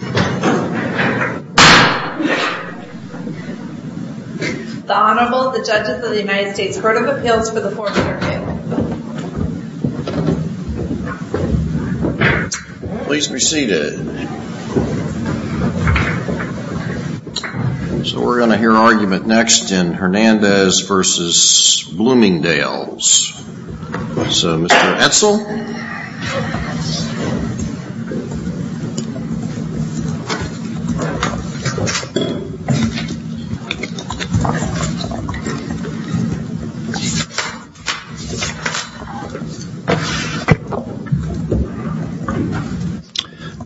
The Honorable, the Judges of the United States Court of Appeals for the Fourth Amendment. Please be seated. So we're going to hear argument next in Hernandez v. Bloomingdales. So, Mr. Edsel.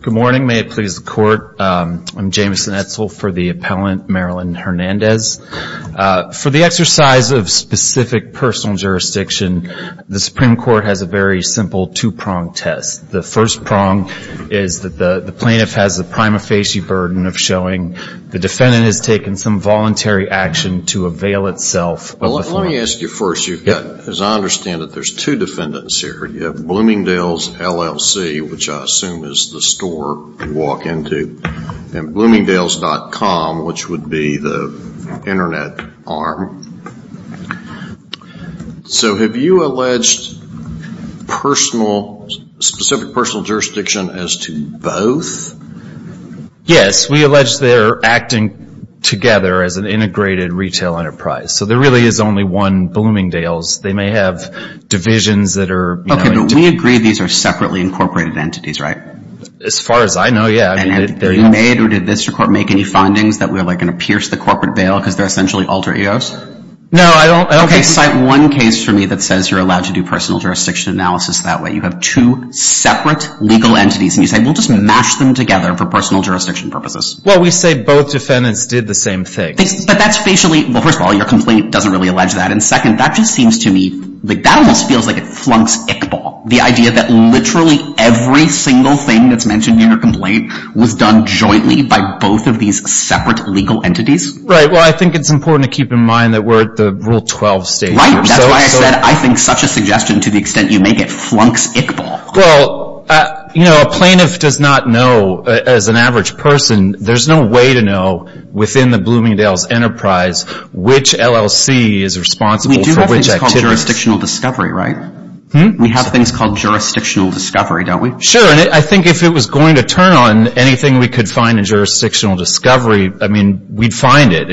Good morning. May it please the Court. I'm Jameson Edsel for the appellant, Marilyn Hernandez. For the exercise of specific personal jurisdiction, the Supreme Court has a very simple two-pronged test. The first prong is that the plaintiff has the prima facie burden of showing the defendant has taken some voluntary action to avail itself of the form. Well, let me ask you first. You've got, as I understand it, there's two defendants here. You have Bloomingdales, LLC, which I assume is the store you walk into, and Bloomingdales.com, which would be the internet arm. So have you alleged specific personal jurisdiction as to both? Yes, we allege they're acting together as an integrated retail enterprise. So there really is only one Bloomingdales. They may have divisions that are... Okay, but we agree these are separately incorporated entities, right? As far as I know, yeah. And have you made, or did this court make any findings that we're going to pierce the corporate veil because they're essentially alter egos? No, I don't... Okay, cite one case for me that says you're allowed to do personal jurisdiction analysis that way. You have two separate legal entities, and you say, we'll just mash them together for personal jurisdiction purposes. Well, we say both defendants did the same thing. But that's facially... Well, first of all, your complaint doesn't really allege that, and second, that just seems to me... That almost feels like it flunks Ickball, the idea that literally every single thing that's mentioned in your complaint was done jointly by both of these separate legal entities. Right. Well, I think it's important to keep in mind that we're at the Rule 12 stage. Right. That's why I said I think such a suggestion to the extent you make it flunks Ickball. Well, a plaintiff does not know, as an average person, there's no way to know within the Bloomingdales enterprise which LLC is responsible for which activities. We do have things called jurisdictional discovery, right? We have things called jurisdictional discovery, don't we? Sure, and I think if it was going to turn on anything we could find in jurisdictional discovery, I mean, we'd find it.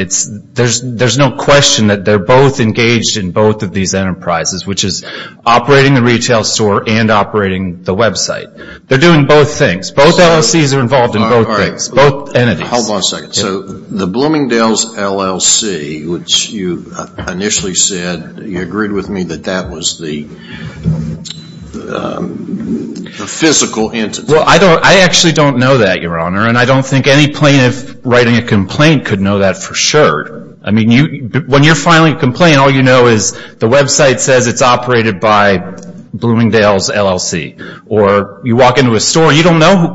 There's no question that they're both engaged in both of these enterprises, which is operating the retail store and operating the website. They're doing both things. Both LLCs are involved in both things. Both entities. Hold on a second. So the Bloomingdales LLC, which you initially said, you agreed with me that that was the physical entity. Well, I actually don't know that, Your Honor, and I don't think any plaintiff writing a complaint could know that for sure. I mean, when you're filing a complaint, all you know is the website says it's operated by Bloomingdales LLC, or you walk into a store and you don't know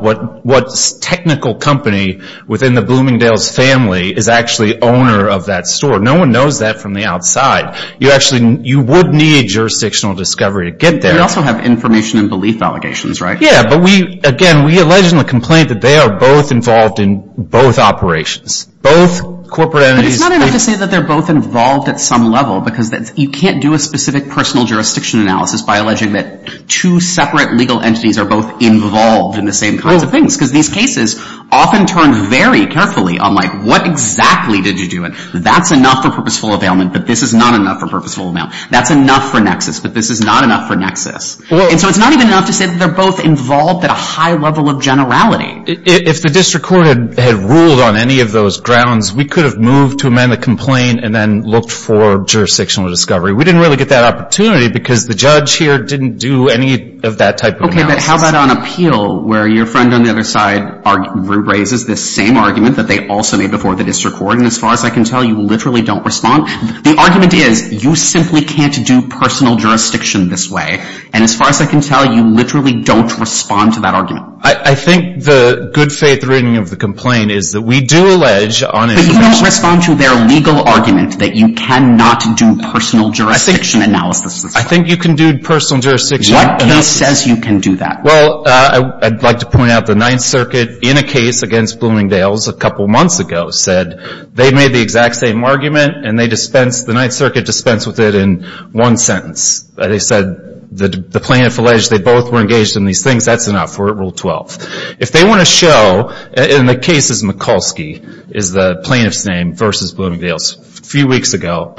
what technical company within the Bloomingdales family is actually owner of that store. No one knows that from the outside. You actually, you would need jurisdictional discovery to get there. You also have information and belief allegations, right? Yeah, but we, again, we allege in the complaint that they are both involved in both operations. Both corporate entities. But it's not enough to say that they're both involved at some level, because you can't do a specific personal jurisdiction analysis by alleging that two separate legal entities are both involved in the same kinds of things, because these cases often turn very carefully on like, what exactly did you do? That's enough for purposeful availment, but this is not enough for purposeful availment. That's enough for nexus, but this is not enough for nexus. And so it's not even enough to say that they're both involved at a high level of generality. If the district court had ruled on any of those grounds, we could have moved to amend the complaint and then looked for jurisdictional discovery. We didn't really get that opportunity because the judge here didn't do any of that type of analysis. But how about on appeal, where your friend on the other side raises this same argument that they also made before the district court, and as far as I can tell, you literally don't respond? The argument is, you simply can't do personal jurisdiction this way. And as far as I can tell, you literally don't respond to that argument. I think the good faith reading of the complaint is that we do allege on infection But you don't respond to their legal argument that you cannot do personal jurisdiction analysis this way. I think you can do personal jurisdiction analysis. What case says you can do that? Well, I'd like to point out the Ninth Circuit in a case against Bloomingdale's a couple months ago said they made the exact same argument and they dispensed, the Ninth Circuit dispensed with it in one sentence. They said the plaintiff alleged they both were engaged in these things. That's enough. We're at Rule 12. If they want to show, and the case is Mikulski, is the plaintiff's name, versus Bloomingdale's a few weeks ago,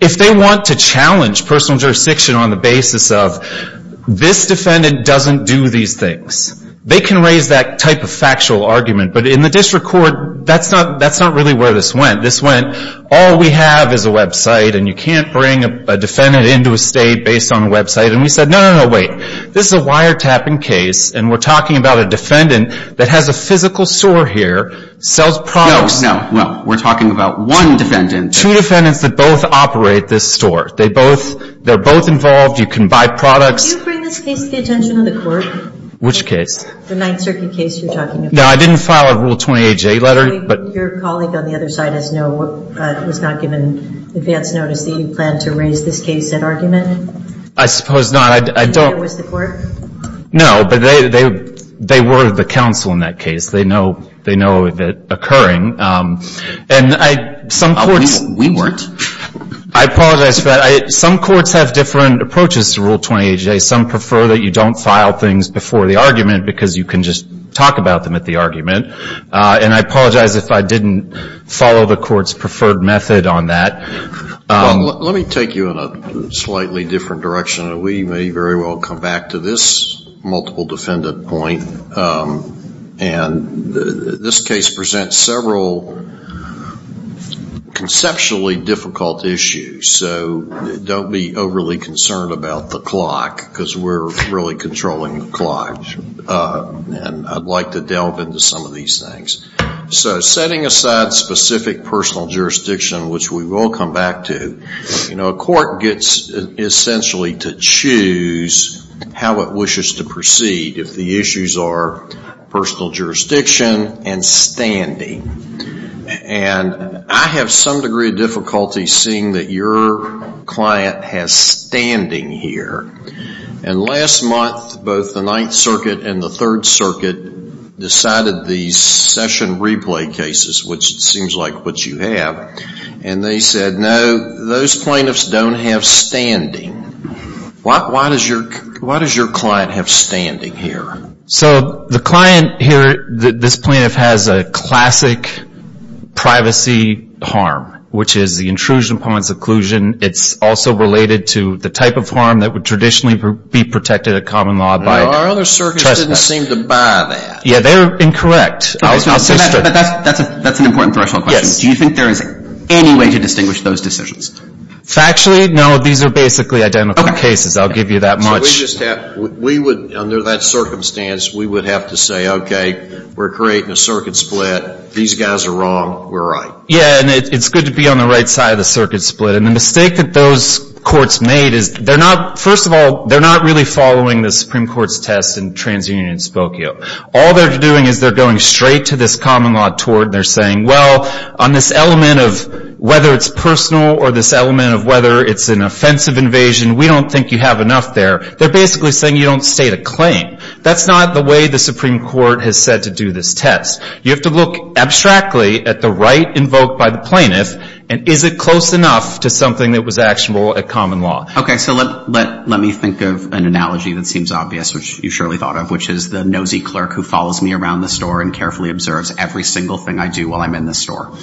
if they want to challenge personal jurisdiction on the basis of this defendant doesn't do these things, they can raise that type of factual argument. But in the district court, that's not really where this went. This went, all we have is a website and you can't bring a defendant into a state based on a website. And we said, no, no, no, wait. This is a wiretapping case and we're talking about a defendant that has a physical sore here, sells products. No, no, we're talking about one defendant. Two defendants that both operate this store. They both, they're both involved. You can buy products. Do you bring this case to the attention of the court? Which case? The Ninth Circuit case you're talking about. No, I didn't file a Rule 28J letter, but. Your colleague on the other side does know, was not given advance notice that you planned to raise this case at argument? I suppose not. I don't. Was the court? No, but they were the counsel in that case. They know, they know that occurring. And I, some courts. We weren't. I apologize for that. Some courts have different approaches to Rule 28J. Some prefer that you don't file things before the argument because you can just talk about them at the argument. And I apologize if I didn't follow the court's preferred method on that. Well, let me take you in a slightly different direction. We may very well come back to this multiple defendant point. And this case presents several conceptually difficult issues. So don't be overly concerned about the clock because we're really controlling the clock. And I'd like to delve into some of these things. So setting aside specific personal jurisdiction, which we will come back to, you know, a court gets essentially to choose how it wishes to proceed. If the issues are personal jurisdiction and standing. And I have some degree of difficulty seeing that your client has standing here. And last month, both the Ninth Circuit and the Third Circuit decided the session replay cases, which seems like what you have, and they said, no, those plaintiffs don't have standing. Why does your client have standing? So the client here, this plaintiff has a classic privacy harm, which is the intrusion upon seclusion. It's also related to the type of harm that would traditionally be protected at common law by trespass. Our other circuits didn't seem to buy that. Yeah, they're incorrect. That's an important question. Do you think there is any way to distinguish those decisions? Factually, no. These are basically identical cases. I'll give you that much. We would, under that circumstance, we would have to say, okay, we're creating a circuit split. These guys are wrong. We're right. Yeah, and it's good to be on the right side of the circuit split. And the mistake that those courts made is they're not, first of all, they're not really following the Supreme Court's test in TransUnion and Spokio. All they're doing is they're going straight to this common law tort. And they're saying, well, on this element of whether it's personal or this element of whether it's an offensive invasion, we don't think you have enough there. They're basically saying you don't state a claim. That's not the way the Supreme Court has said to do this test. You have to look abstractly at the right invoked by the plaintiff, and is it close enough to something that was actionable at common law? Okay, so let me think of an analogy that seems obvious, which you surely thought of, which is the nosy clerk who follows me around the store and carefully observes every single thing I do while I'm in the store.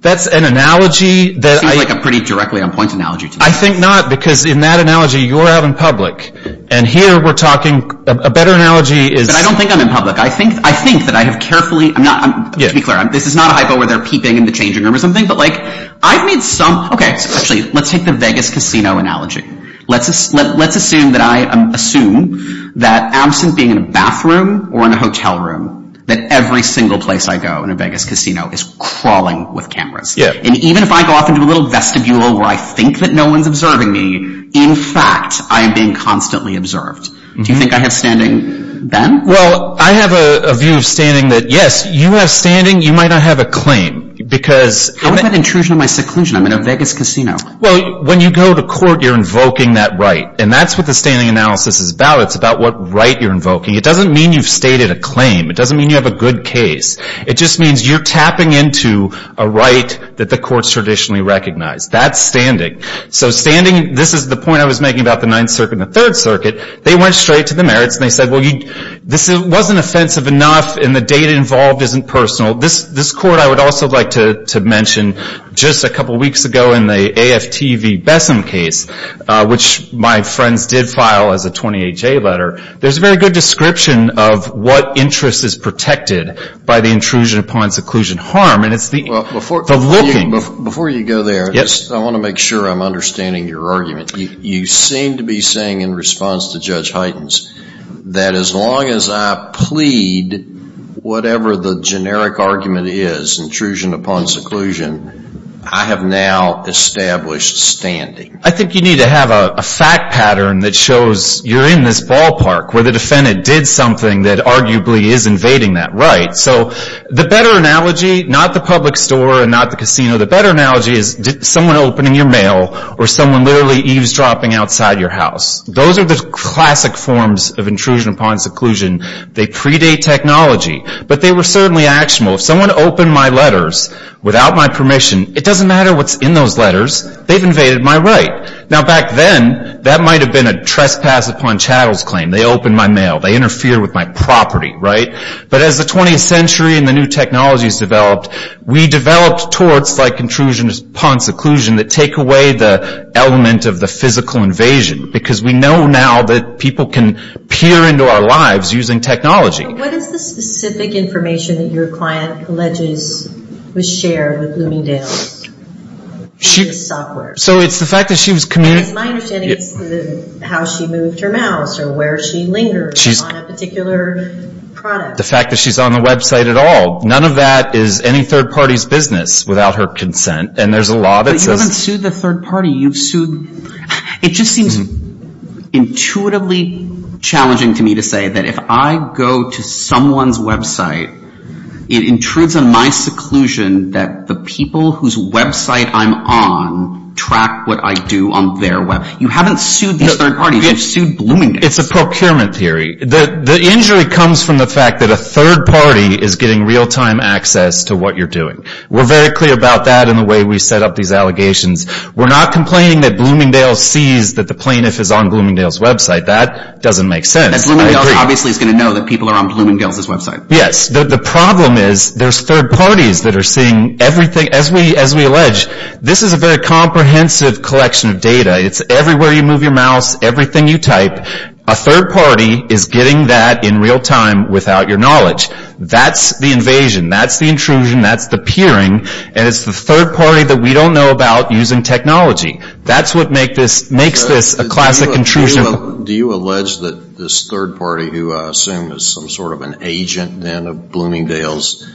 That's an analogy that I — Seems like a pretty directly on point analogy to me. I think not, because in that analogy, you're out in public. And here we're talking — a better analogy is — But I don't think I'm in public. I think that I have carefully — to be clear, this is not a hypo where they're peeping in the changing room or something, but like, I've made some — okay, so actually, let's take the Vegas casino analogy. Let's assume that I — assume that absent being in a bathroom or in a hotel room, that every single place I go in a Vegas casino is crawling with cameras. Yeah. And even if I go off into a little vestibule where I think that no one's observing me, in fact, I am being constantly observed. Do you think I have standing then? Well, I have a view of standing that, yes, you have standing. You might not have a claim, because — How is that an intrusion on my seclusion? I'm in a Vegas casino. Well, when you go to court, you're invoking that right. And that's what the standing analysis is about. It's about what right you're invoking. It doesn't mean you've stated a claim. It doesn't mean you have a good case. It just means you're tapping into a right that the courts traditionally recognize. That's standing. So standing — this is the point I was making about the Ninth Circuit and the Third Circuit. They went straight to the merits, and they said, well, you — this wasn't offensive enough, and the data involved isn't personal. This court, I would also like to mention, just a couple weeks ago in the AFTV Bessem case, which my friends did file as a 28-J letter, there's a very good description of what interest is protected by the intrusion upon seclusion harm. And it's the — Well, before — The looking — Before you go there — Yes. I want to make sure I'm understanding your argument. You seem to be saying, in response to Judge Heitens, that as long as I plead whatever the generic argument is, intrusion upon seclusion, I have now established standing. I think you need to have a fact pattern that shows you're in this ballpark, where the defendant did something that arguably is invading that right. So the better analogy — not the public store and not the casino — the better analogy is someone opening your mail or someone literally eavesdropping outside your house. Those are the classic forms of intrusion upon seclusion. They predate technology. But they were certainly actionable. If someone opened my letters without my permission, it doesn't matter what's in those letters. They've invaded my right. Now back then, that might have been a trespass upon chattels claim. They opened my mail. They interfered with my property, right? But as the 20th century and the new technologies developed, we developed torts like intrusion upon seclusion that take away the element of the physical invasion. Because we know now that people can peer into our lives using technology. But what is the specific information that your client alleges was shared with Bloomingdale? She — The software. So it's the fact that she was — My understanding is how she moved her mouse or where she lingered on a particular product. The fact that she's on the website at all. None of that is any third party's business without her consent. And there's a law that says — But you haven't sued the third party. You've sued — it just seems intuitively challenging to me to say that if I go to someone's website, it intrudes on my seclusion that the people whose website I'm on track what I do on their web — you haven't sued these third parties. You've sued Bloomingdale's. It's a procurement theory. The injury comes from the fact that a third party is getting real-time access to what you're doing. We're very clear about that in the way we set up these allegations. We're not complaining that Bloomingdale sees that the plaintiff is on Bloomingdale's website. That doesn't make sense. And Bloomingdale's obviously is going to know that people are on Bloomingdale's website. Yes. The problem is there's third parties that are seeing everything — as we allege, this is a very comprehensive collection of data. It's everywhere you move your mouse, everything you type. A third party is getting that in real time without your knowledge. That's the invasion. That's the intrusion. That's the peering. And it's the third party that we don't know about using technology. That's what makes this a classic intrusion. Do you allege that this third party, who I assume is some sort of an agent then of Bloomingdale's,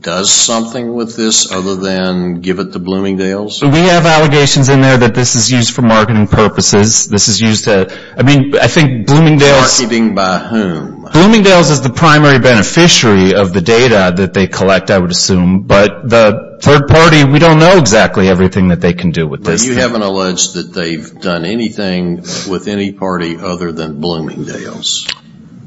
does something with this other than give it to Bloomingdale's? We have allegations in there that this is used for marketing purposes. This is used to — I mean, I think Bloomingdale's — Marketing by whom? Bloomingdale's is the primary beneficiary of the data that they collect, I would assume. But the third party, we don't know exactly everything that they can do with this. But you haven't alleged that they've done anything with any party other than Bloomingdale's?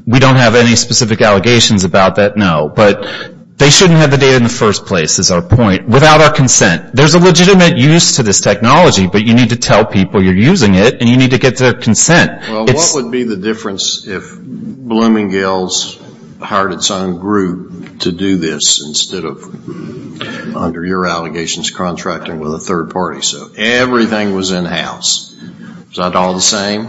We don't have any specific allegations about that, no. But they shouldn't have the data in the first place, is our point, without our consent. There's a legitimate use to this technology, but you need to tell people you're using it, and you need to get their consent. Well, what would be the difference if Bloomingdale's hired its own group to do this, instead of, under your allegations, contracting with a third party? So everything was in-house. Is that all the same?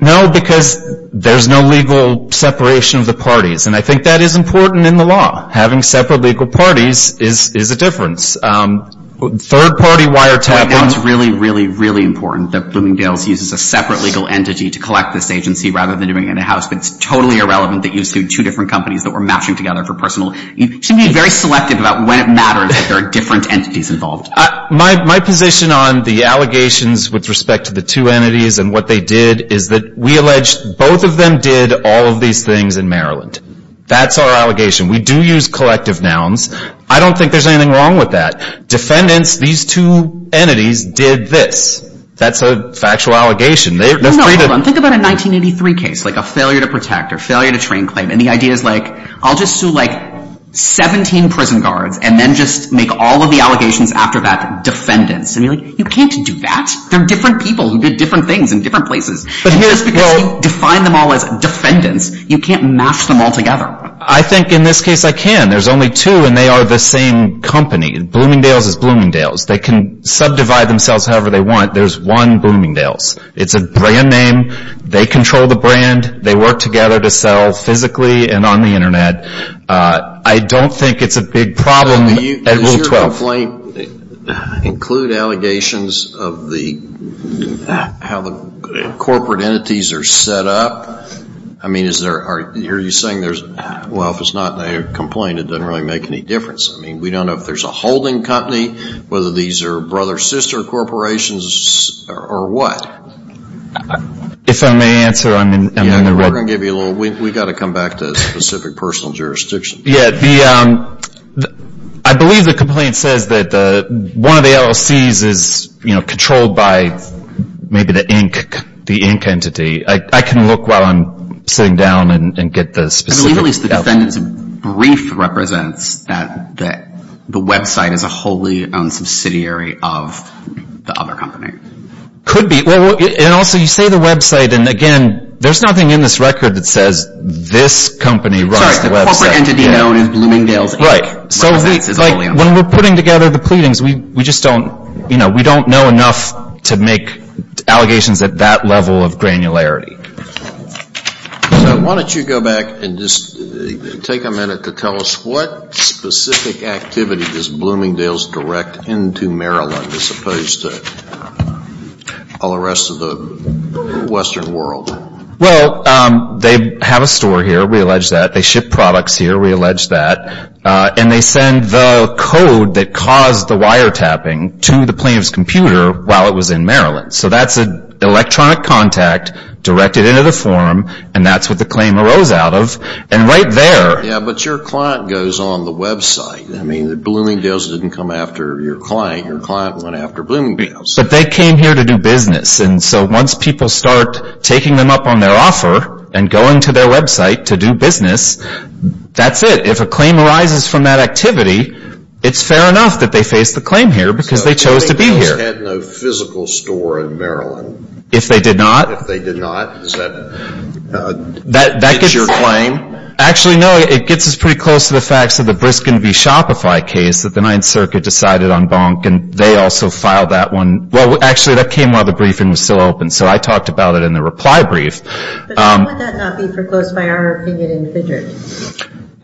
No, because there's no legal separation of the parties. And I think that is important in the law. Having separate legal parties is a difference. Third party wiretap on... I think it's really, really, really important that Bloomingdale's uses a separate legal entity to collect this agency, rather than doing it in-house. But it's totally irrelevant that you exclude two different companies that were matching together for personal... You should be very selective about when it matters that there are different entities involved. My position on the allegations with respect to the two entities and what they did is that we alleged both of them did all of these things in Maryland. That's our allegation. We do use collective nouns. I don't think there's anything wrong with that. Defendants, these two entities, did this. That's a factual allegation. No, no, hold on. Think about a 1983 case, like a failure to protect or failure to train claim. And the idea is, like, I'll just sue, like, 17 prison guards and then just make all of the allegations after that defendants. And you're like, you can't do that. They're different people who did different things in different places. But here's the thing. You define them all as defendants. You can't match them all together. I think in this case I can. There's only two and they are the same company. Bloomingdale's is Bloomingdale's. They can subdivide themselves however they want. There's one Bloomingdale's. It's a brand name. They control the brand. They work together to sell physically and on the Internet. I don't think it's a big problem at Rule 12. Does your complaint include allegations of the, how the corporate entities are set up? I mean, is there, are, are you saying there's, well, if it's not a complaint, it doesn't really make any difference. I mean, we don't know if there's a holding company, whether these are brother-sister corporations or what. If I may answer, I'm in, I'm in the room. We're going to give you a little, we've got to come back to a specific personal jurisdiction. Yeah, the, I believe the complaint says that the, one of the LLCs is, you know, controlled by maybe the Inc, the Inc entity. I, I can look while I'm sitting down and get the specific. At the very least, the defendant's brief represents that, that the website is a wholly owned subsidiary of the other company. Could be, well, and also you say the website, and again, there's nothing in this record that says this company runs the website. Sorry, the corporate entity known as Bloomingdale's Inc. Right. Represents as a wholly owned. So we, like, when we're putting together the pleadings, we, we just don't, you know, we don't know enough to make allegations at that level of granularity. So why don't you go back and just take a minute to tell us what specific activity does Bloomingdale's direct into Maryland as opposed to all the rest of the Western world? Well, they have a store here, we allege that. They ship products here, we allege that. And they send the code that caused the wiretapping to the plaintiff's computer while it was in Maryland. So that's an electronic contact directed into the form, and that's what the claim arose out of. And right there. Yeah, but your client goes on the website. I mean, Bloomingdale's didn't come after your client. Your client went after Bloomingdale's. But they came here to do business. And so once people start taking them up on their offer, and going to their website to do business, that's it. If a claim arises from that activity, it's fair enough that they face the claim here, because they chose to be here. If they had no physical store in Maryland. If they did not. If they did not. Does that fit your claim? Actually, no. It gets us pretty close to the facts of the Briskin v. Shopify case that the Ninth Circuit decided on Bonk, and they also filed that one. Well, actually, that came while the briefing was still open. So I talked about it in the reply brief. But how would that not be foreclosed by our opinion in Fidrick?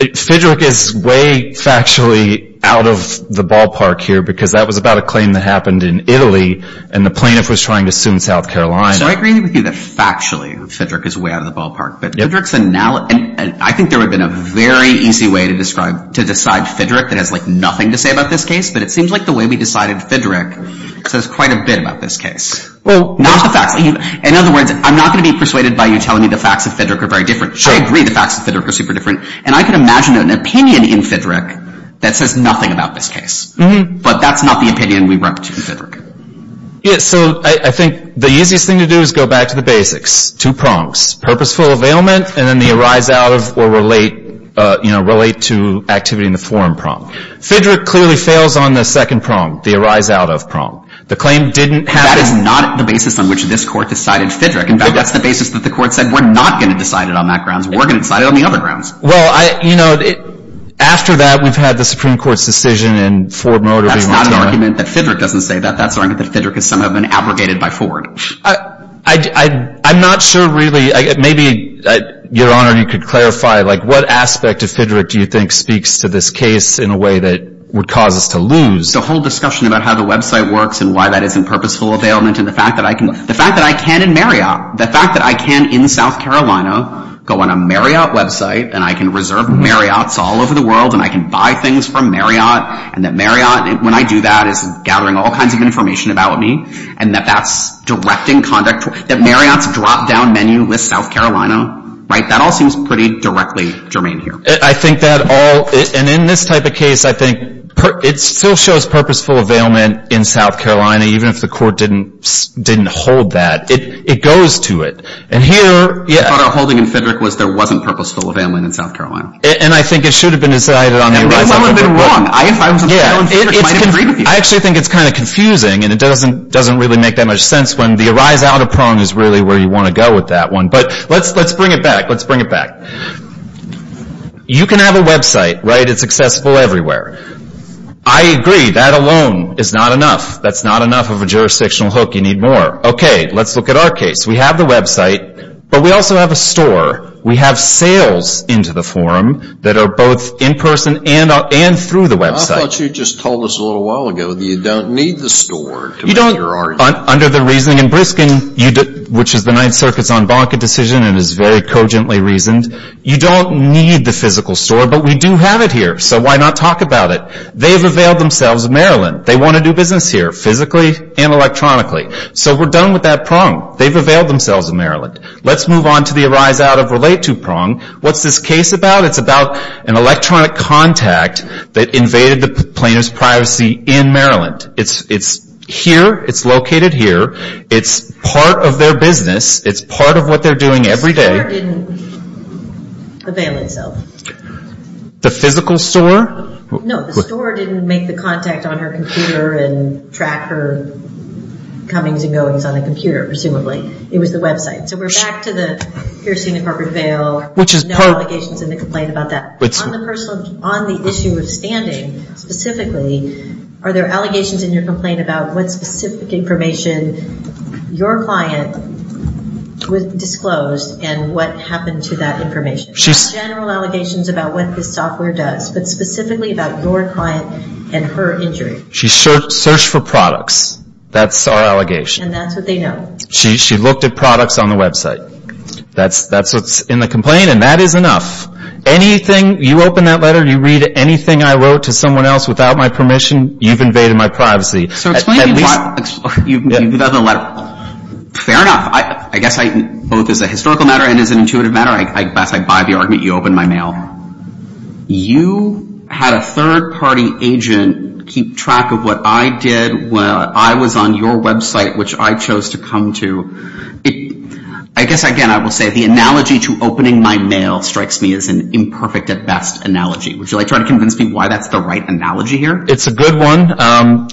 Fidrick is way factually out of the ballpark here, because that was about a claim that happened in Italy, and the plaintiff was trying to sue in South Carolina. So I agree with you that factually, Fidrick is way out of the ballpark. But Fidrick's analogy, and I think there would have been a very easy way to describe, to decide Fidrick that has like nothing to say about this case. But it seems like the way we decided Fidrick says quite a bit about this case. Well, not the facts. In other words, I'm not going to be persuaded by you telling me the facts of Fidrick are very different. I agree the facts of Fidrick are super different. And I can imagine an opinion in Fidrick that says nothing about this case. But that's not the opinion we brought to Fidrick. Yeah, so I think the easiest thing to do is go back to the basics. Two prongs. Purposeful availment, and then the arise out of or relate, you know, relate to activity in the forum prong. Fidrick clearly fails on the second prong, the arise out of prong. The claim didn't have. That is not the basis on which this court decided Fidrick. In fact, that's the basis that the court said we're not going to decide it on that grounds. We're going to decide it on the other grounds. Well, you know, after that, we've had the Supreme Court's decision in Ford Motor. That's not an argument that Fidrick doesn't say that. That's an argument that Fidrick has somehow been abrogated by Ford. I'm not sure, really, maybe, Your Honor, you could clarify, like, what aspect of Fidrick do you think speaks to this case in a way that would cause us to lose? The whole discussion about how the website works and why that isn't purposeful availment, and the fact that I can, the fact that I can in Marriott, the fact that I can in South Carolina go on a Marriott website, and I can reserve Marriott's all over the world, and I can buy things from Marriott, and that Marriott, when I do that, is gathering all kinds of information about me, and that that's directing conduct, that Marriott's drop-down menu lists South Carolina, right? That all seems pretty directly germane here. I think that all, and in this type of case, I think it still shows purposeful availment in South Carolina, even if the court didn't hold that. It goes to it. And here, yeah. I thought a holding in Fidrick was there wasn't purposeful availment in South Carolina. And I think it should have been decided on the rise out of Prong. It was a little bit wrong. If I was in Fidrick, I might agree with you. I actually think it's kind of confusing, and it doesn't really make that much sense when the rise out of Prong is really where you want to go with that one. But let's bring it back. Let's bring it back. You can have a website, right? It's accessible everywhere. I agree, that alone is not enough. That's not enough of a jurisdictional hook. You need more. Okay, let's look at our case. We have the website, but we also have a store. We have sales into the forum that are both in-person and through the website. I thought you just told us a little while ago that you don't need the store to make your argument. Under the reasoning in Briskin, which is the Ninth Circuit's en banc decision and is very cogently reasoned, you don't need the physical store, but we do have it here. So why not talk about it? They've availed themselves of Maryland. They want to do business here, physically and electronically. So we're done with that Prong. They've availed themselves of Maryland. Let's move on to the rise out of Relate to Prong. What's this case about? It's about an electronic contact that invaded the plaintiff's privacy in Maryland. It's here. It's located here. It's part of their business. It's part of what they're doing every day. The store didn't avail itself. The physical store? No, the store didn't make the contact on her computer and track her comings and goings on the computer, presumably. It was the website. So we're back to the piercing the corporate veil, no allegations in the complaint about that. On the issue of standing, specifically, are there allegations in your complaint about what specific information your client disclosed and what happened to that information? Not general allegations about what this software does, but specifically about your client and her injury. She searched for products. That's our allegation. And that's what they know. She looked at products on the website. That's what's in the complaint, and that is enough. Anything, you open that letter, you read anything I wrote to someone else without my permission, you've invaded my privacy. So explain to me why you've invaded the letter. Fair enough. I guess both as a historical matter and as an intuitive matter, I'd buy the argument you opened my mail. You had a third-party agent keep track of what I did while I was on your website, which I chose to come to. I guess, again, I will say the analogy to opening my mail strikes me as an imperfect at best analogy. Would you like to try to convince me why that's the right analogy here? It's a good one. How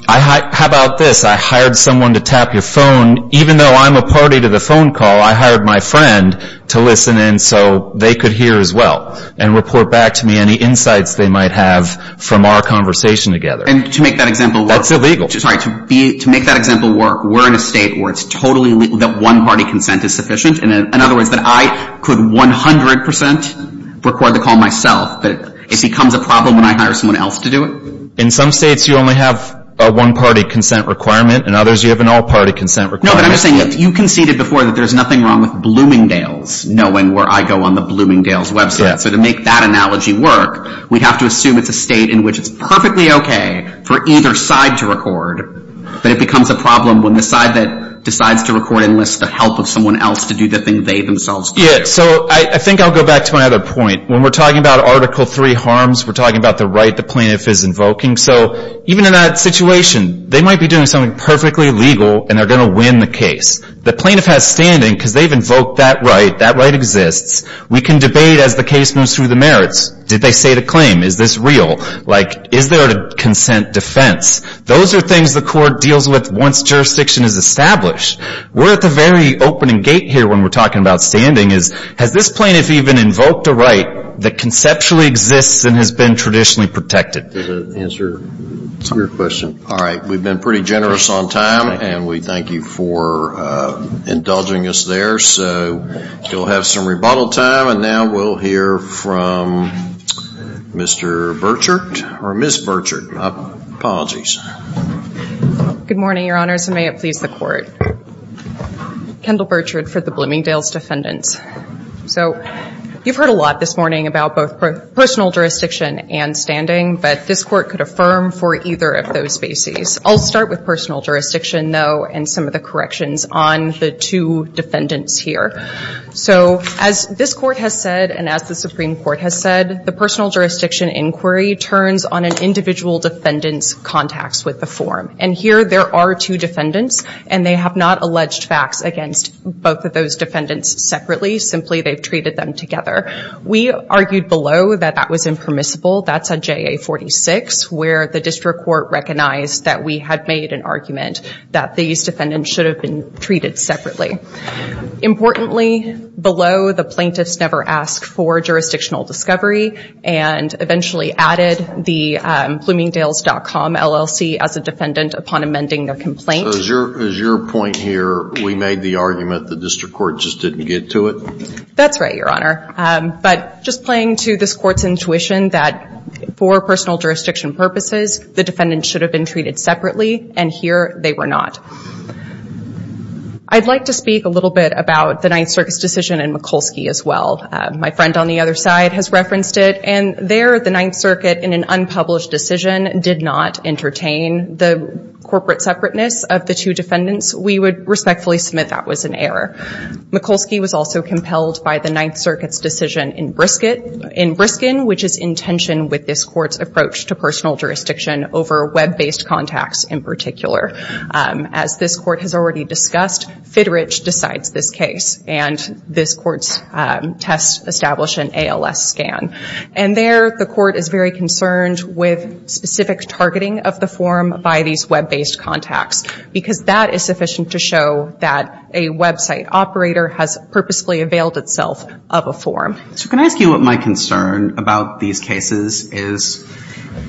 about this? I hired someone to tap your phone. Even though I'm a party to the phone call, I hired my friend to listen in so they could hear as well. And report back to me any insights they might have from our conversation together. And to make that example work. That's illegal. Sorry, to make that example work, we're in a state where it's totally legal that one-party consent is sufficient. In other words, that I could 100% record the call myself, but it becomes a problem when I hire someone else to do it. In some states, you only have a one-party consent requirement. In others, you have an all-party consent requirement. No, but I'm just saying, you conceded before that there's nothing wrong with Bloomingdale's knowing where I go on the Bloomingdale's website. So to make that analogy work, we have to assume it's a state in which it's perfectly okay for either side to record, but it becomes a problem when the side that decides to record enlists the help of someone else to do the thing they themselves do. Yeah, so I think I'll go back to my other point. When we're talking about Article III harms, we're talking about the right the plaintiff is invoking. So even in that situation, they might be doing something perfectly legal and they're going to win the case. The plaintiff has standing because they've invoked that right. That right exists. We can debate as the case moves through the merits. Did they state a claim? Is this real? Like, is there a consent defense? Those are things the court deals with once jurisdiction is established. We're at the very opening gate here when we're talking about standing is, has this plaintiff even invoked a right that conceptually exists and has been traditionally protected? Does that answer your question? All right, we've been pretty generous on time, and we thank you for indulging us there. So we'll have some rebuttal time, and now we'll hear from Mr. Burchard, or Ms. Burchard. Apologies. Good morning, Your Honors, and may it please the court. Kendall Burchard for the Bloomingdale's Defendants. So you've heard a lot this morning about both personal jurisdiction and standing, but this court could affirm for either of those bases. I'll start with personal jurisdiction, though, and some of the corrections on the two defendants here. So as this court has said, and as the Supreme Court has said, the personal jurisdiction inquiry turns on an individual defendant's contacts with the form. And here, there are two defendants, and they have not alleged facts against both of those defendants separately. Simply, they've treated them together. We argued below that that was impermissible. That's on JA 46, where the district court recognized that we had made an argument that these defendants should have been treated separately. Importantly, below, the plaintiffs never asked for jurisdictional discovery and eventually added the bloomingdales.com LLC as a defendant upon amending their complaint. So as your point here, we made the argument the district court just didn't get to it? That's right, Your Honor. But just playing to this court's intuition that for personal jurisdiction purposes, the defendant should have been treated separately. And here, they were not. I'd like to speak a little bit about the Ninth Circuit's decision in Mikulski as well. My friend on the other side has referenced it. And there, the Ninth Circuit, in an unpublished decision, did not entertain the corporate separateness of the two defendants. We would respectfully submit that was an error. Mikulski was also compelled by the Ninth Circuit's decision in Briskin, which is in tension with this court's approach to personal jurisdiction over web-based contacts, in particular. As this court has already discussed, FIDRICH decides this case. And this court's test established an ALS scan. And there, the court is very concerned with specific targeting of the form by these web-based contacts. Because that is sufficient to show that a website operator has purposefully availed itself of a form. So can I ask you what my concern about these cases is?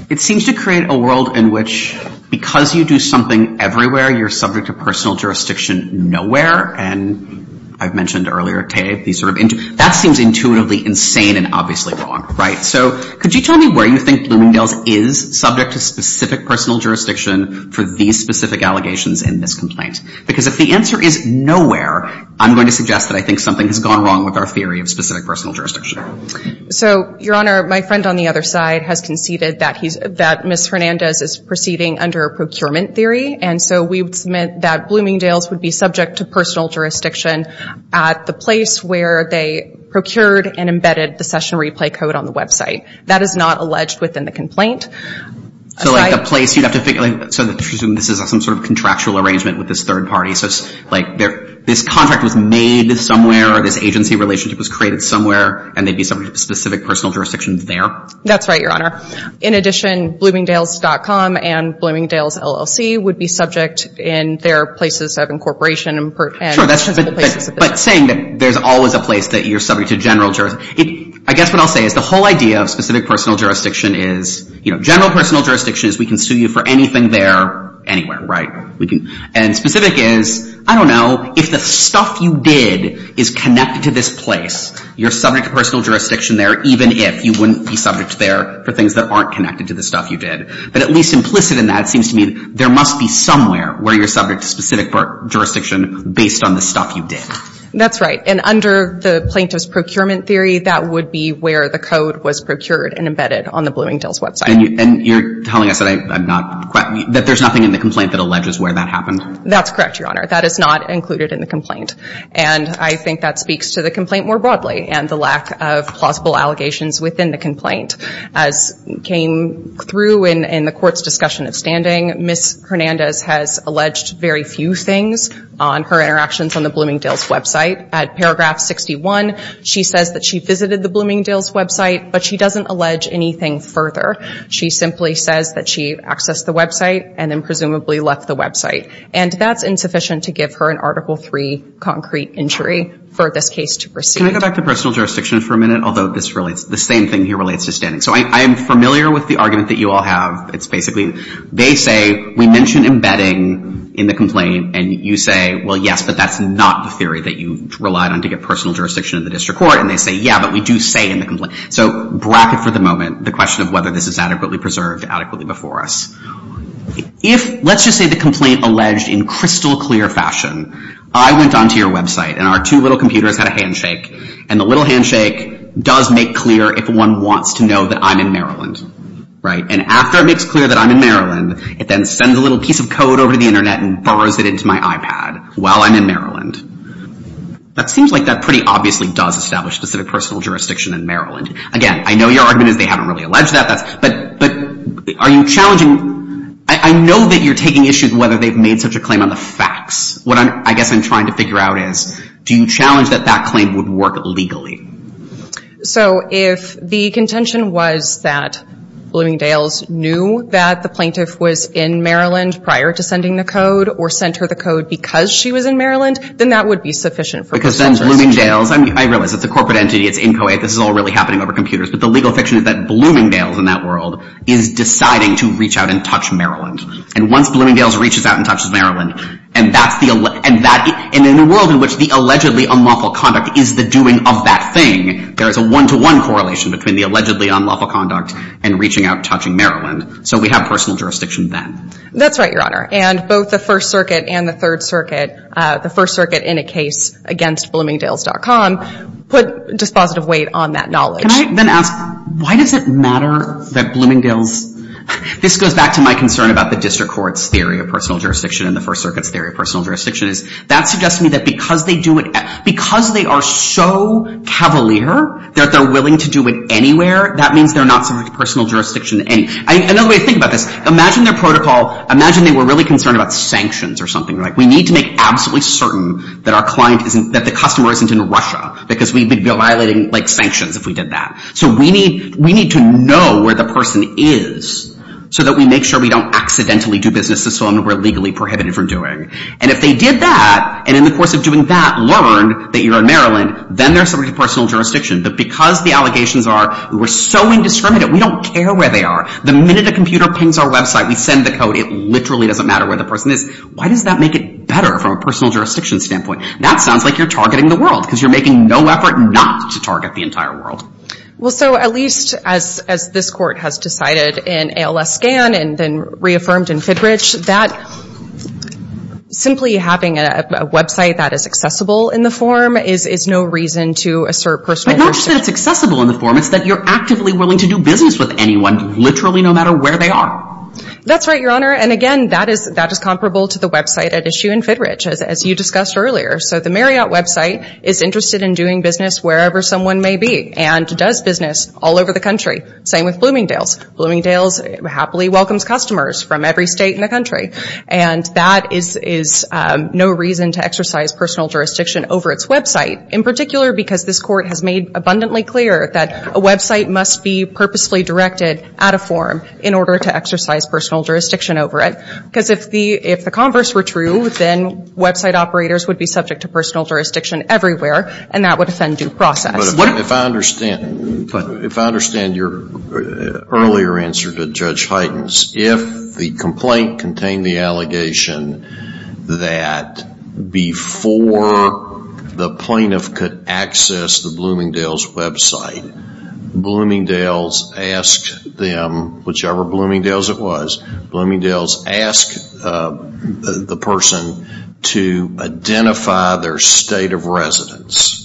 It seems to create a world in which, because you do something everywhere, you're subject to personal jurisdiction nowhere. And I've mentioned earlier, Tay, that seems intuitively insane and obviously wrong, right? So could you tell me where you think Bloomingdale's is subject to specific personal jurisdiction for these specific allegations in this complaint? Because if the answer is nowhere, I'm going to suggest that I think something has gone wrong with our theory of specific personal jurisdiction. So, Your Honor, my friend on the other side has conceded that Ms. Hernandez is proceeding under a procurement theory. And so we would submit that Bloomingdale's would be subject to personal jurisdiction at the place where they procured and embedded the session replay code on the website. That is not alleged within the complaint. So like the place you'd have to figure out, so this is some sort of contractual arrangement with this third party. So it's like this contract was made somewhere, this agency relationship was created somewhere, and they'd be subject to specific personal jurisdiction there? That's right, Your Honor. In addition, Bloomingdale's.com and Bloomingdale's LLC would be subject in their places of incorporation and principal places of business. But saying that there's always a place that you're subject to general jurisdiction, I guess what I'll say is the whole idea of specific personal jurisdiction is general personal jurisdiction is we can sue you for anything there, anywhere, right? And specific is, I don't know, if the stuff you did is connected to this place, you're subject to personal jurisdiction there, even if you wouldn't be subject there for things that aren't connected to the stuff you did. But at least implicit in that, it seems to me there must be somewhere where you're subject to specific jurisdiction based on the stuff you did. That's right. And under the plaintiff's procurement theory, that would be where the code was procured and embedded on the Bloomingdale's website. And you're telling us that I'm not quite, that there's nothing in the complaint that alleges where that happened? That's correct, Your Honor. That is not included in the complaint. And I think that speaks to the complaint more broadly and the lack of plausible allegations within the complaint. As came through in the court's discussion of standing, Ms. Hernandez has alleged very few things on her interactions on the Bloomingdale's website. At paragraph 61, she says that she visited the Bloomingdale's website, but she doesn't allege anything further. She simply says that she accessed the website and then presumably left the website. And that's insufficient to give her an Article III concrete injury for this case to proceed. Can I go back to personal jurisdiction for a minute? Although this relates, the same thing here relates to standing. So I am familiar with the argument that you all have. It's basically, they say, we mentioned embedding in the complaint. And you say, well, yes, but that's not the theory that you relied on to get personal jurisdiction in the district court. And they say, yeah, but we do say in the complaint. So bracket for the moment, the question of whether this is adequately preserved adequately before us. If, let's just say, the complaint alleged in crystal clear fashion, I went onto your website and our two little computers had a handshake. And the little handshake does make clear if one wants to know that I'm in Maryland. And after it makes clear that I'm in Maryland, it then sends a little piece of code over to the internet and burrows it into my iPad while I'm in Maryland. That seems like that pretty obviously does establish specific personal jurisdiction in Maryland. Again, I know your argument is they haven't really alleged that. But are you challenging? I know that you're taking issues whether they've made such a claim on the facts. What I guess I'm trying to figure out is, do you challenge that that claim would work legally? So if the contention was that Bloomingdales knew that the plaintiff was in Maryland prior to sending the code or sent her the code because she was in Maryland, then that would be sufficient for personal jurisdiction. I realize it's a corporate entity. It's inchoate. This is all really happening over computers. But the legal fiction is that Bloomingdales in that world is deciding to reach out and touch Maryland. And once Bloomingdales reaches out and touches Maryland, and in a world in which the allegedly unlawful conduct is the doing of that thing, there is a one-to-one correlation between the allegedly unlawful conduct and reaching out and touching Maryland. So we have personal jurisdiction then. That's right, Your Honor. And both the First Circuit and the Third Circuit, the First Circuit in a case against Bloomingdales.com, put dispositive weight on that knowledge. Can I then ask, why does it matter that Bloomingdales? This goes back to my concern about the district court's theory of personal jurisdiction and the First Circuit's theory of personal jurisdiction. That suggests to me that because they are so cavalier that they're willing to do it anywhere, that means they're not subject to personal jurisdiction. Another way to think about this, imagine their protocol. Imagine they were really concerned about sanctions or something. We need to make absolutely certain that the customer isn't in Russia because we'd be violating sanctions if we did that. So we need to know where the person is so that we make sure we don't accidentally do business to someone we're legally prohibited from doing. And if they did that, and in the course of doing that, learned that you're in Maryland, then they're subject to personal jurisdiction. But because the allegations are, we're so indiscriminate, we don't care where they are. The minute a computer pings our website, we send the code, it literally doesn't matter where the person is. Why does that make it better from a personal jurisdiction standpoint? That sounds like you're targeting the world because you're making no effort not to target the entire world. Well, so at least as this court has decided in ALS Scan and then reaffirmed in FIDRICH, that simply having a website that is accessible in the form is no reason to assert personal jurisdiction. But not just that it's accessible in the form, it's that you're actively willing to do business with anyone, literally no matter where they are. That's right, Your Honor. And again, that is comparable to the website at issue in FIDRICH, as you discussed earlier. So the Marriott website is interested in doing business wherever someone may be and does business all over the country. Same with Bloomingdale's. Bloomingdale's happily welcomes customers from every state in the country. And that is no reason to exercise personal jurisdiction over its website, in particular because this court has made abundantly clear that a website must be purposely directed at a forum in order to exercise personal jurisdiction over it. Because if the converse were true, then website operators would be subject to personal jurisdiction everywhere, and that would offend due process. If I understand your earlier answer to Judge Hyten's, if the complaint contained the allegation that before the plaintiff could access the Bloomingdale's website, Bloomingdale's asked them, whichever Bloomingdale's it was, Bloomingdale's asked the person to identify their state of residence.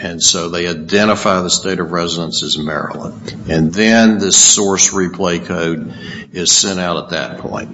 And so they identify the state of residence as Maryland. And then the source replay code is sent out at that point.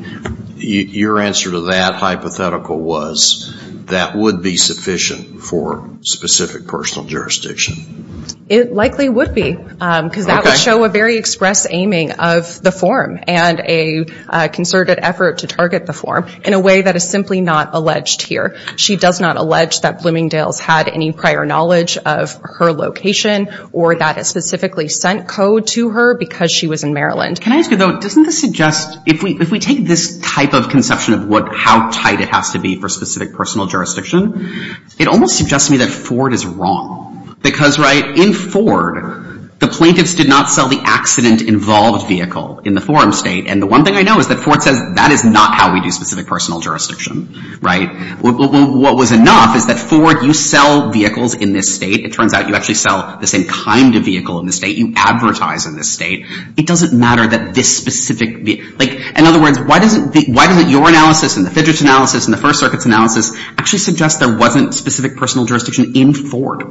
Your answer to that hypothetical was that would be sufficient for specific personal jurisdiction. It likely would be, because that would show a very express aiming of the forum and a concerted effort to target the forum in a way that is simply not alleged here. She does not allege that Bloomingdale's had any prior knowledge of her location or that it specifically sent code to her because she was in Maryland. Can I ask you, though, doesn't this suggest, if we take this type of conception of how tight it has to be for specific personal jurisdiction, it almost suggests to me that Ford is wrong. Because in Ford, the plaintiffs did not sell the accident-involved vehicle in the forum state. And the one thing I know is that Ford says that is not how we do specific personal jurisdiction. What was enough is that Ford, you sell vehicles in this state. It turns out you actually sell the same kind of vehicle in the state. You advertise in this state. It doesn't matter that this specific vehicle. In other words, why doesn't your analysis and the fidget analysis and the First Circuit's analysis actually suggest there wasn't specific personal jurisdiction in Ford?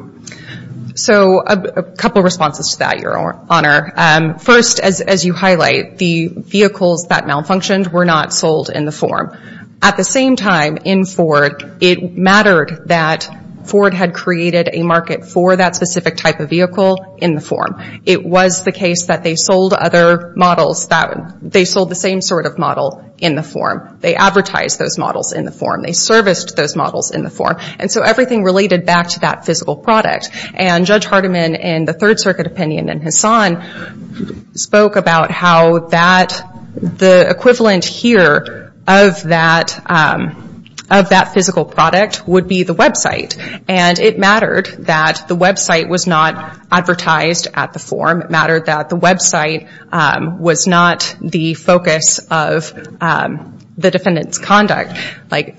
So a couple of responses to that, Your Honor. First, as you highlight, the vehicles that malfunctioned were not sold in the forum. At the same time, in Ford, it mattered that Ford had created a market for that specific type of vehicle in the forum. It was the case that they sold other models, that they sold the same sort of model in the forum. They advertised those models in the forum. They serviced those models in the forum. And so everything related back to that physical product. And Judge Hardiman, in the Third Circuit opinion, and Hassan spoke about how the equivalent here of that physical product would be the website. And it mattered that the website was not advertised at the forum. It mattered that the website was not the focus of the defendant's conduct.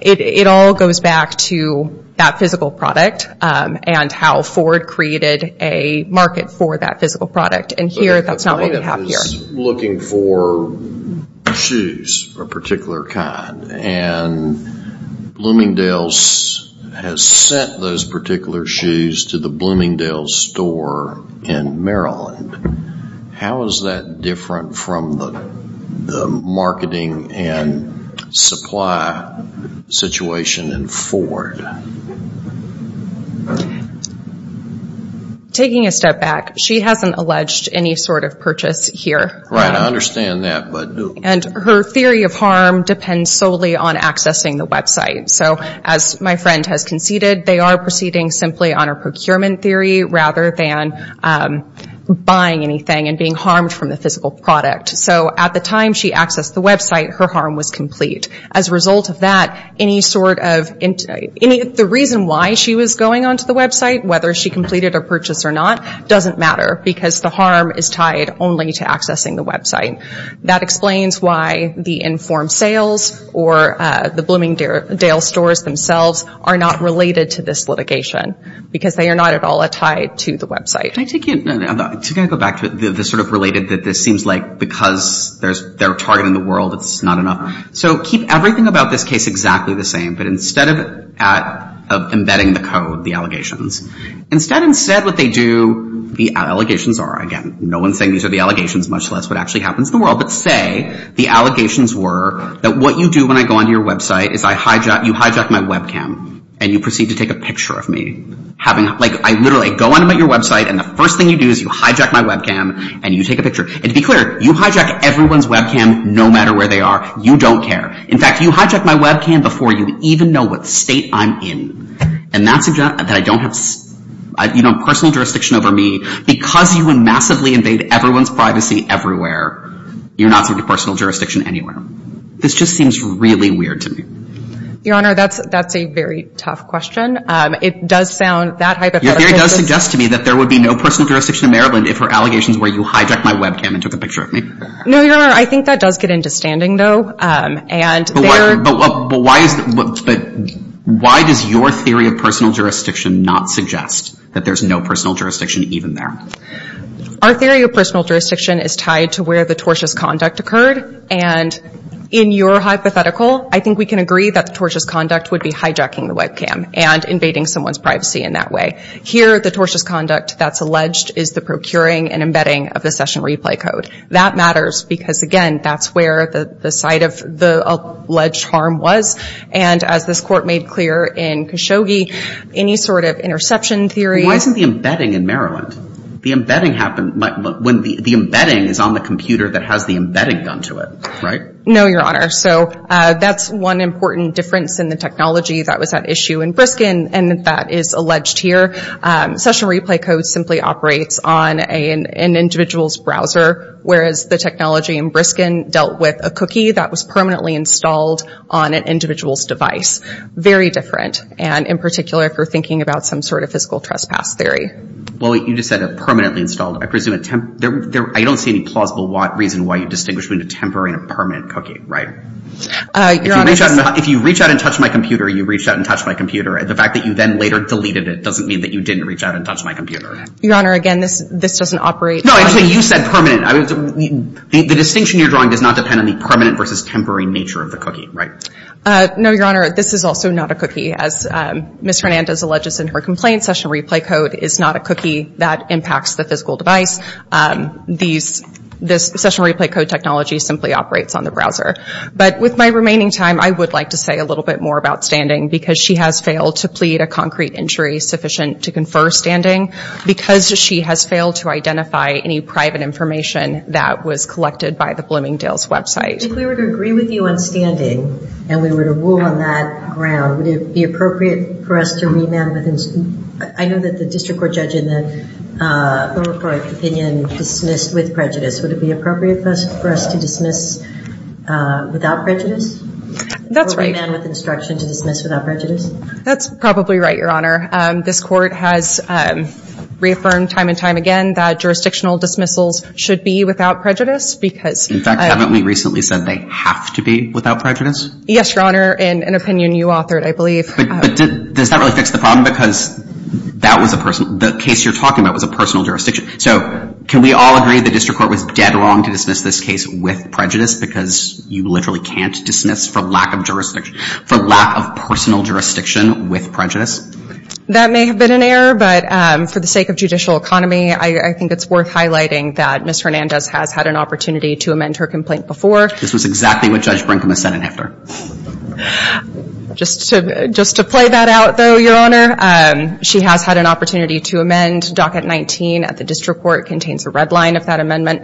It all goes back to that physical product and how Ford created a market for that physical product. And here, that's not what we have here. The plaintiff is looking for shoes of a particular kind. And Bloomingdale's has sent those particular shoes to the Bloomingdale's store in Maryland. How is that different from the marketing and supply situation in Ford? All right. Taking a step back, she hasn't alleged any sort of purchase here. Right, I understand that. And her theory of harm depends solely on accessing the website. So as my friend has conceded, they are proceeding simply on a procurement theory rather than buying anything and being harmed from the physical product. So at the time she accessed the website, her harm was complete. As a result of that, any sort of interest, the reason why she was going onto the website, whether she completed a purchase or not, doesn't matter because the harm is tied only to accessing the website. That explains why the informed sales or the Bloomingdale's stores themselves are not related to this litigation because they are not at all tied to the website. Can I take you, I'm going to go back to the sort of related that this seems like because they're targeting the world, it's not enough. So keep everything about this case exactly the same. But instead of embedding the code, the allegations, instead what they do, the allegations are, again, no one's saying these are the allegations, much less what actually happens in the world. But say the allegations were that what you do when I go onto your website is you hijack my webcam and you proceed to take a picture of me. Like I literally go on about your website and the first thing you do is you hijack my webcam and you take a picture. And to be clear, you hijack everyone's webcam no matter where they are. You don't care. In fact, you hijack my webcam before you even know what state I'm in. And that suggests that I don't have personal jurisdiction over me. Because you would massively invade everyone's privacy everywhere, you're not subject to personal jurisdiction anywhere. This just seems really weird to me. Your Honor, that's a very tough question. It does sound that hypothetical. Your theory does suggest to me that there would be no personal jurisdiction in Maryland if her allegations were you hijack my webcam and took a picture of me. No, Your Honor, I think that does get into standing, though. But why does your theory of personal jurisdiction not suggest that there's no personal jurisdiction even there? Our theory of personal jurisdiction is tied to where the tortious conduct occurred. And in your hypothetical, I think we can agree that the tortious conduct would be hijacking the webcam and invading someone's privacy in that way. Here, the tortious conduct that's alleged is the procuring and embedding of the session replay code. That matters because, again, that's where the site of the alleged harm was. And as this court made clear in Khashoggi, any sort of interception theory is. Why isn't the embedding in Maryland? The embedding happened when the embedding is on the computer that has the embedding done to it, right? No, Your Honor. So that's one important difference in the technology that was at issue in Briskin and that is alleged here. Session replay code simply operates on an individual's browser, whereas the technology in Briskin dealt with a cookie that was permanently installed on an individual's device. Very different, and in particular for thinking about some sort of physical trespass theory. Well, you just said permanently installed. I don't see any plausible reason why you distinguish between a temporary and a permanent cookie, right? If you reach out and touch my computer, you reached out and touched my computer. The fact that you then later deleted it doesn't mean that you didn't reach out and touch my computer. Your Honor, again, this doesn't operate on a computer. No, actually, you said permanent. The distinction you're drawing does not depend on the permanent versus temporary nature of the cookie, right? No, Your Honor, this is also not a cookie. As Ms. Hernandez alleges in her complaint, session replay code is not a cookie that impacts the physical device. This session replay code technology simply operates on the browser. But with my remaining time, I would like to say a little bit more about standing, because she has failed to plead a concrete injury sufficient to confer standing, because she has failed to identify any private information that was collected by the Bloomingdale's website. If we were to agree with you on standing, and we were to rule on that ground, would it be appropriate for us to remand with instruction? I know that the district court judge in the Lomacourt opinion dismissed with prejudice. Would it be appropriate for us to dismiss without prejudice? That's right. Or remand with instruction to dismiss without prejudice? That's probably right, Your Honor. This court has reaffirmed time and time again that jurisdictional dismissals should be without prejudice, because- In fact, haven't we recently said they have to be without prejudice? Yes, Your Honor, in an opinion you authored, I believe. But does that really fix the problem? Because that was a personal- the case you're talking about was a personal jurisdiction. So can we all agree the district court was dead wrong to dismiss this case with prejudice, because you literally can't dismiss for lack of jurisdiction- for lack of personal jurisdiction with prejudice? That may have been an error, but for the sake of judicial economy, I think it's worth highlighting that Ms. Hernandez has had an opportunity to amend her complaint before. This was exactly what Judge Brinkman said in effort. Just to play that out, though, Your Honor, she has had an opportunity to amend Docket 19 at the district court. It contains a red line of that amendment.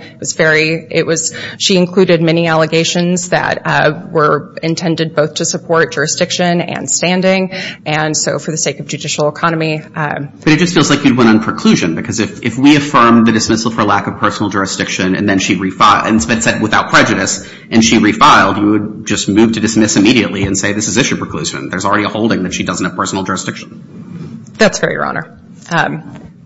She included many allegations that were intended both to support jurisdiction and standing. And so for the sake of judicial economy- But it just feels like you'd went on preclusion. Because if we affirm the dismissal for lack of personal jurisdiction, and then she refiled- and said without prejudice, and she refiled, you would just move to dismiss immediately and say this is issue preclusion. There's already a holding that she doesn't have personal jurisdiction. That's fair, Your Honor.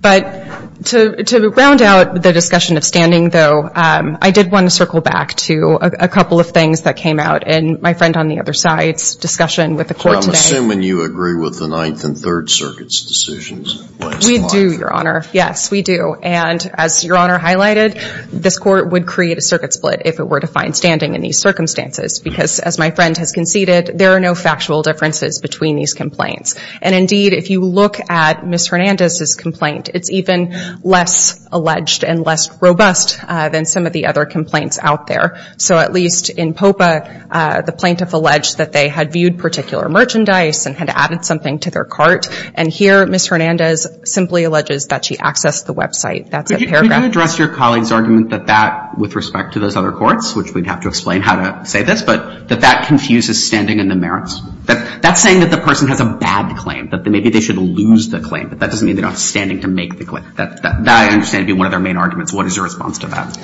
But to round out the discussion of standing, though, I did want to circle back to a couple of things that came out in my friend on the other side's discussion with the court today. I'm assuming you agree with the Ninth and Third Circuit's decisions. We do, Your Honor. Yes, we do. And as Your Honor highlighted, this court would create a circuit split if it were to find standing in these circumstances. Because as my friend has conceded, there are no factual differences between these complaints. And indeed, if you look at Ms. Hernandez's complaint, it's even less alleged and less robust than some of the other complaints out there. So at least in Popa, the plaintiff alleged that they had viewed particular merchandise and had added something to their cart. And here, Ms. Hernandez simply alleges that she accessed the website. That's a paragraph. Could you address your colleague's argument that that, with respect to those other courts, which we'd have to explain how to say this, but that that confuses standing and the merits? That's saying that the person has a bad claim, that maybe they should lose the claim. But that doesn't mean they're not standing to make the claim. That, I understand, would be one of their main arguments. What is your response to that?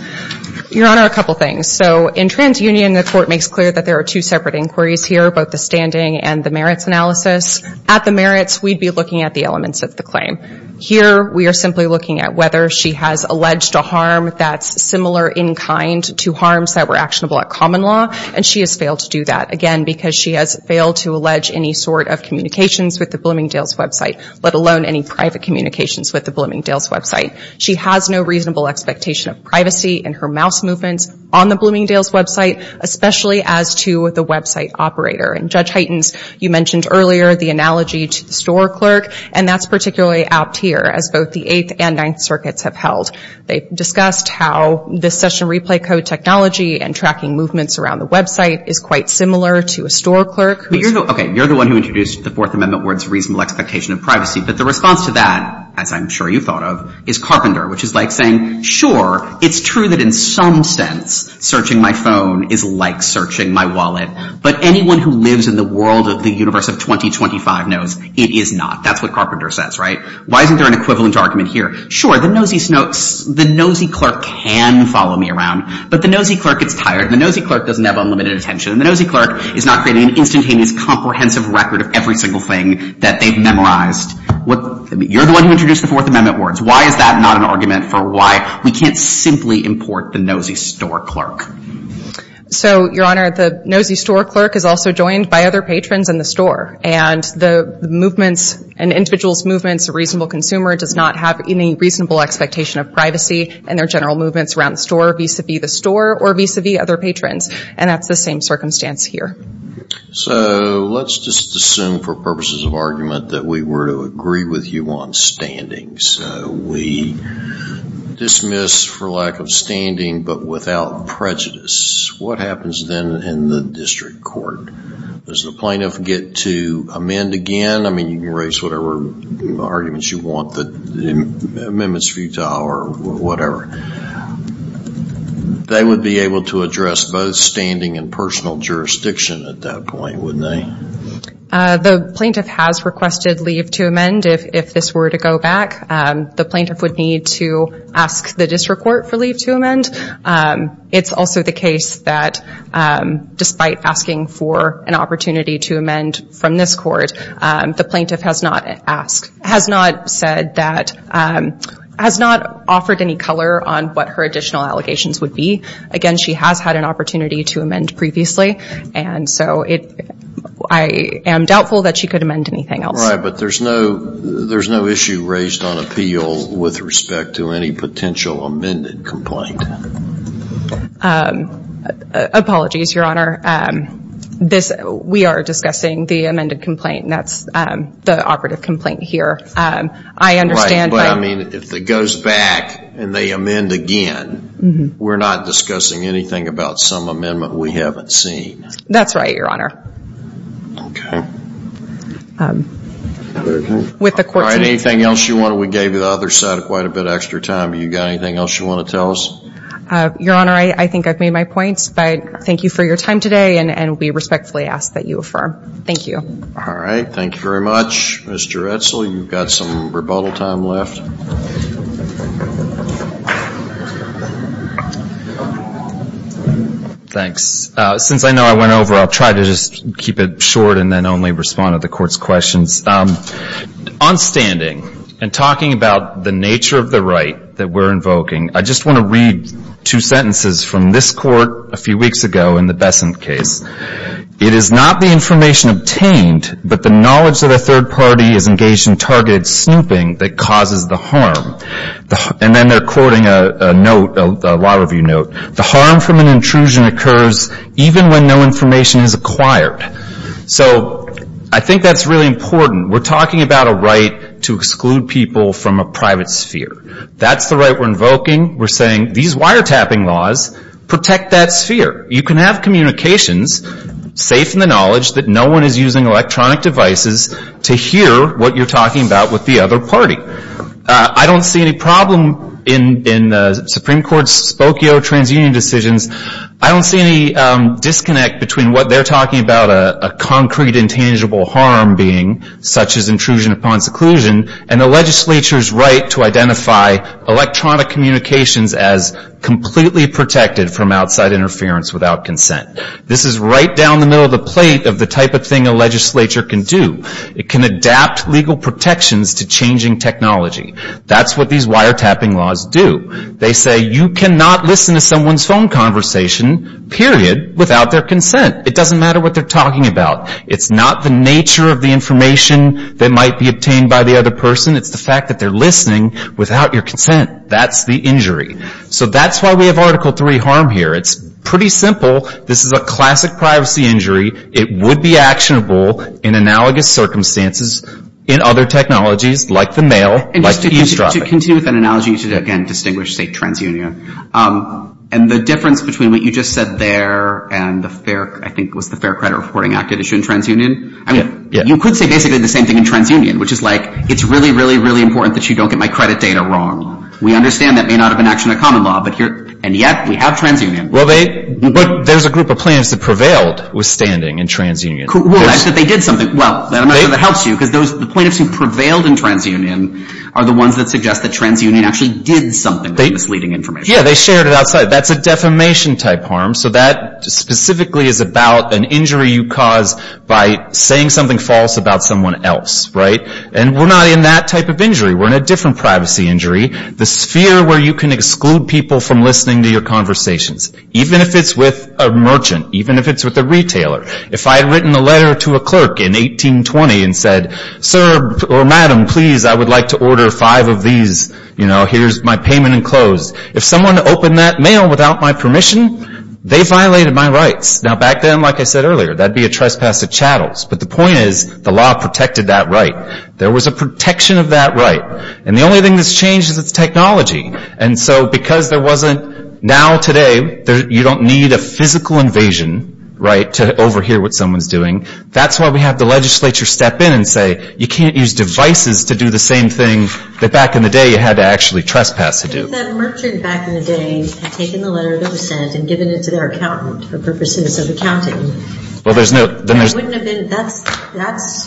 Your Honor, a couple things. So in TransUnion, the court makes clear that there are two separate inquiries here, both the standing and the merits analysis. At the merits, we'd be looking at the elements of the claim. Here, we are simply looking at whether she has alleged a harm that's similar in kind to harms that were actionable at common law. And she has failed to do that, again, because she has failed to allege any sort of communications with the Bloomingdale's website, let alone any private communications with the Bloomingdale's She has no reasonable expectation of privacy in her mouse movements on the Bloomingdale's website, especially as to the website operator. And Judge Heitens, you mentioned earlier the analogy to the store clerk. And that's particularly apt here, as both the Eighth and Ninth Circuits have held. They've discussed how the session replay code technology and tracking movements around the website is quite similar to a store clerk. But you're the one who introduced the Fourth Amendment where it's reasonable expectation of privacy. But the response to that, as I'm sure you thought of, is carpenter, which is like saying, sure, it's true that in some sense, searching my phone is like searching my wallet. But anyone who lives in the world of the universe of 2025 knows it is not. That's what carpenter says, right? Why isn't there an equivalent argument here? Sure, the nosy clerk can follow me around. But the nosy clerk gets tired. And the nosy clerk doesn't have unlimited attention. And the nosy clerk is not creating an instantaneous comprehensive record of every single thing that they've memorized. You're the one who introduced the Fourth Amendment words. Why is that not an argument for why we can't simply import the nosy store clerk? So, Your Honor, the nosy store clerk is also joined by other patrons in the store. And the movements and individuals' movements, a reasonable consumer does not have any reasonable expectation of privacy in their general movements around the store, vis-a-vis the store, or vis-a-vis other patrons. And that's the same circumstance here. So let's just assume for purposes of argument that we were to agree with you on standing. So we dismiss for lack of standing, but without prejudice. What happens then in the district court? Does the plaintiff get to amend again? I mean, you can raise whatever arguments you want, the amendments futile or whatever. They would be able to address both standing and personal jurisdiction at that point, wouldn't they? The plaintiff has requested leave to amend. If this were to go back, the plaintiff would need to ask the district court for leave to amend. It's also the case that despite asking for an opportunity to amend from this court, the plaintiff has not asked, has not said that, has not offered any color on what her additional allegations would be. Again, she has had an opportunity to amend previously. And so I am doubtful that she could amend anything else. Right, but there's no issue raised on appeal with respect to any potential amended complaint. Apologies, Your Honor. We are discussing the amended complaint, and that's the operative complaint here. I understand- Right, but I mean, if it goes back and they amend again, we're not discussing anything about some amendment we haven't seen. That's right, Your Honor. Okay. With the court- All right, anything else you want to tell us, or we gave you the other side of quite a bit of extra time, but you got anything else you want to tell us? Your Honor, I think I've made my points, but thank you for your time today, and we respectfully ask that you affirm. Thank you. All right, thank you very much. Mr. Edsel, you've got some rebuttal time left. Thanks. Since I know I went over, I'll try to just keep it short and then only respond to the court's questions. On standing and talking about the nature of the right that we're invoking, I just want to read two sentences from this court a few weeks ago in the Besant case. It is not the information obtained, but the knowledge that a third party is engaged in targeted snooping that causes the harm. And then they're quoting a note, a law review note. The harm from an intrusion occurs even when no information is acquired. So I think that's really important. We're talking about a right to exclude people from a private sphere. That's the right we're invoking. We're saying these wiretapping laws protect that sphere. You can have communications safe in the knowledge that no one is using electronic devices to hear what you're talking about with the other party. I don't see any problem in the Supreme Court's Spokio transunion decisions. I don't see any disconnect between what they're talking about, a concrete intangible harm being, such as intrusion upon seclusion, and the legislature's right to identify electronic communications as completely protected from outside interference without consent. This is right down the middle of the plate of the type of thing a legislature can do. It can adapt legal protections to changing technology. That's what these wiretapping laws do. They say you cannot listen to someone's phone conversation, period, without their consent. It doesn't matter what they're talking about. It's not the nature of the information that might be obtained by the other person. It's the fact that they're listening without your consent. That's the injury. So that's why we have Article III harm here. It's pretty simple. This is a classic privacy injury. It would be actionable in analogous circumstances in other technologies like the mail, like eavesdropping. To continue with that analogy, you should again distinguish, say, transunion. And the difference between what you just said there and the Fair Credit Reporting Act issue in transunion, I mean, you could say basically the same thing in transunion, which is like, it's really, really, really important that you don't get my credit data wrong. We understand that may not have been an action of common law, and yet we have transunion. Well, there's a group of plaintiffs that prevailed withstanding in transunion. Well, that's that they did something. Well, I'm not sure that helps you, because the plaintiffs who prevailed in transunion are the ones that suggest that transunion actually did something with misleading information. Yeah, they shared it outside. That's a defamation type harm. So that specifically is about an injury you cause by saying something false about someone else, right? And we're not in that type of injury. We're in a different privacy injury, the sphere where you can exclude people from listening to your conversations, even if it's with a merchant, even if it's with a retailer. If I had written a letter to a clerk in 1820 and said, sir or madam, please, I would like to order five of these. Here's my payment enclosed. If someone opened that mail without my permission, they violated my rights. Now back then, like I said earlier, that'd be a trespass at chattels. But the point is the law protected that right. There was a protection of that right. And the only thing that's changed is its technology. And so because there wasn't, now today, you don't need a physical invasion, right, to overhear what someone's doing. That's why we have the legislature step in and say, you can't use devices to do the same thing that back in the day you had to actually trespass to do. If that merchant back in the day had taken the letter that was sent and given it to their accountant for purposes of accounting, that wouldn't have been, that's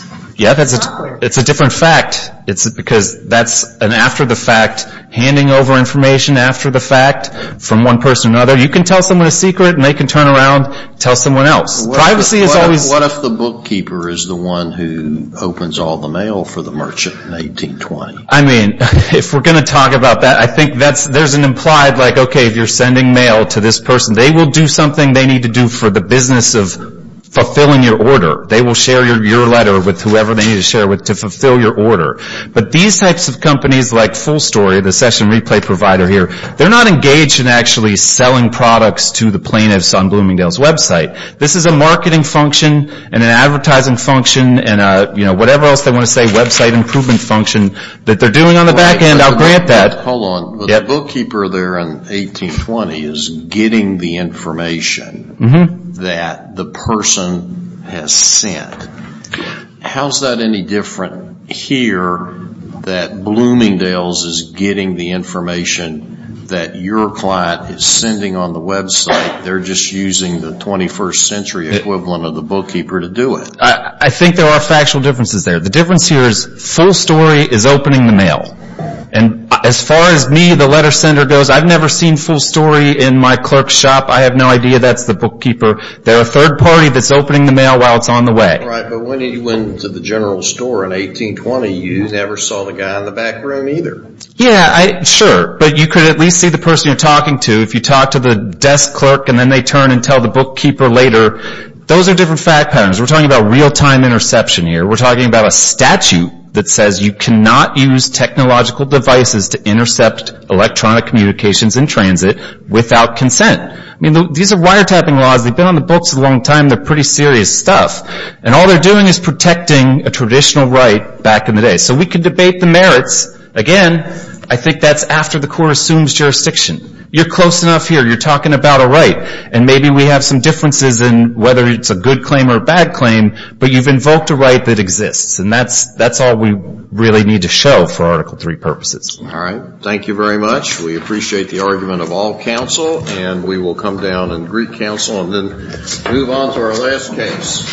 awkward. Yeah, it's a different fact. It's because that's an after the fact, handing over information after the fact from one person to another. You can tell someone a secret and they can turn around and tell someone else. Privacy is always. What if the bookkeeper is the one who opens all the mail for the merchant in 1820? I mean, if we're gonna talk about that, I think there's an implied like, okay, if you're sending mail to this person, they will do something they need to do for the business of fulfilling your order. They will share your letter with whoever they need to share with to fulfill your order. But these types of companies like Full Story, the session replay provider here, they're not engaged in actually selling products to the plaintiffs on Bloomingdale's website. This is a marketing function and an advertising function and whatever else they wanna say, website improvement function that they're doing on the back end. I'll grant that. Hold on, the bookkeeper there in 1820 is getting the information that the person has sent. How's that any different here that Bloomingdale's is getting the information that your client is sending on the website? They're just using the 21st century equivalent of the bookkeeper to do it. I think there are factual differences there. The difference here is Full Story is opening the mail. And as far as me, the letter sender goes, I've never seen Full Story in my clerk shop. I have no idea that's the bookkeeper. They're a third party that's opening the mail while it's on the way. Right, but when you went to the general store in 1820, you never saw the guy in the back room either. Yeah, sure. But you could at least see the person you're talking to. If you talk to the desk clerk and then they turn and tell the bookkeeper later, those are different fact patterns. We're talking about real-time interception here. We're talking about a statute that says you cannot use technological devices to intercept electronic communications in transit without consent. I mean, these are wiretapping laws. They've been on the books a long time. They're pretty serious stuff. And all they're doing is protecting a traditional right back in the day. So we could debate the merits. Again, I think that's after the court assumes jurisdiction. You're close enough here. You're talking about a right. And maybe we have some differences in whether it's a good claim or a bad claim, but you've invoked a right that exists. And that's all we really need to show for Article III purposes. All right. Thank you very much. We appreciate the argument of all counsel. And we will come down and greet counsel and then move on to our last case.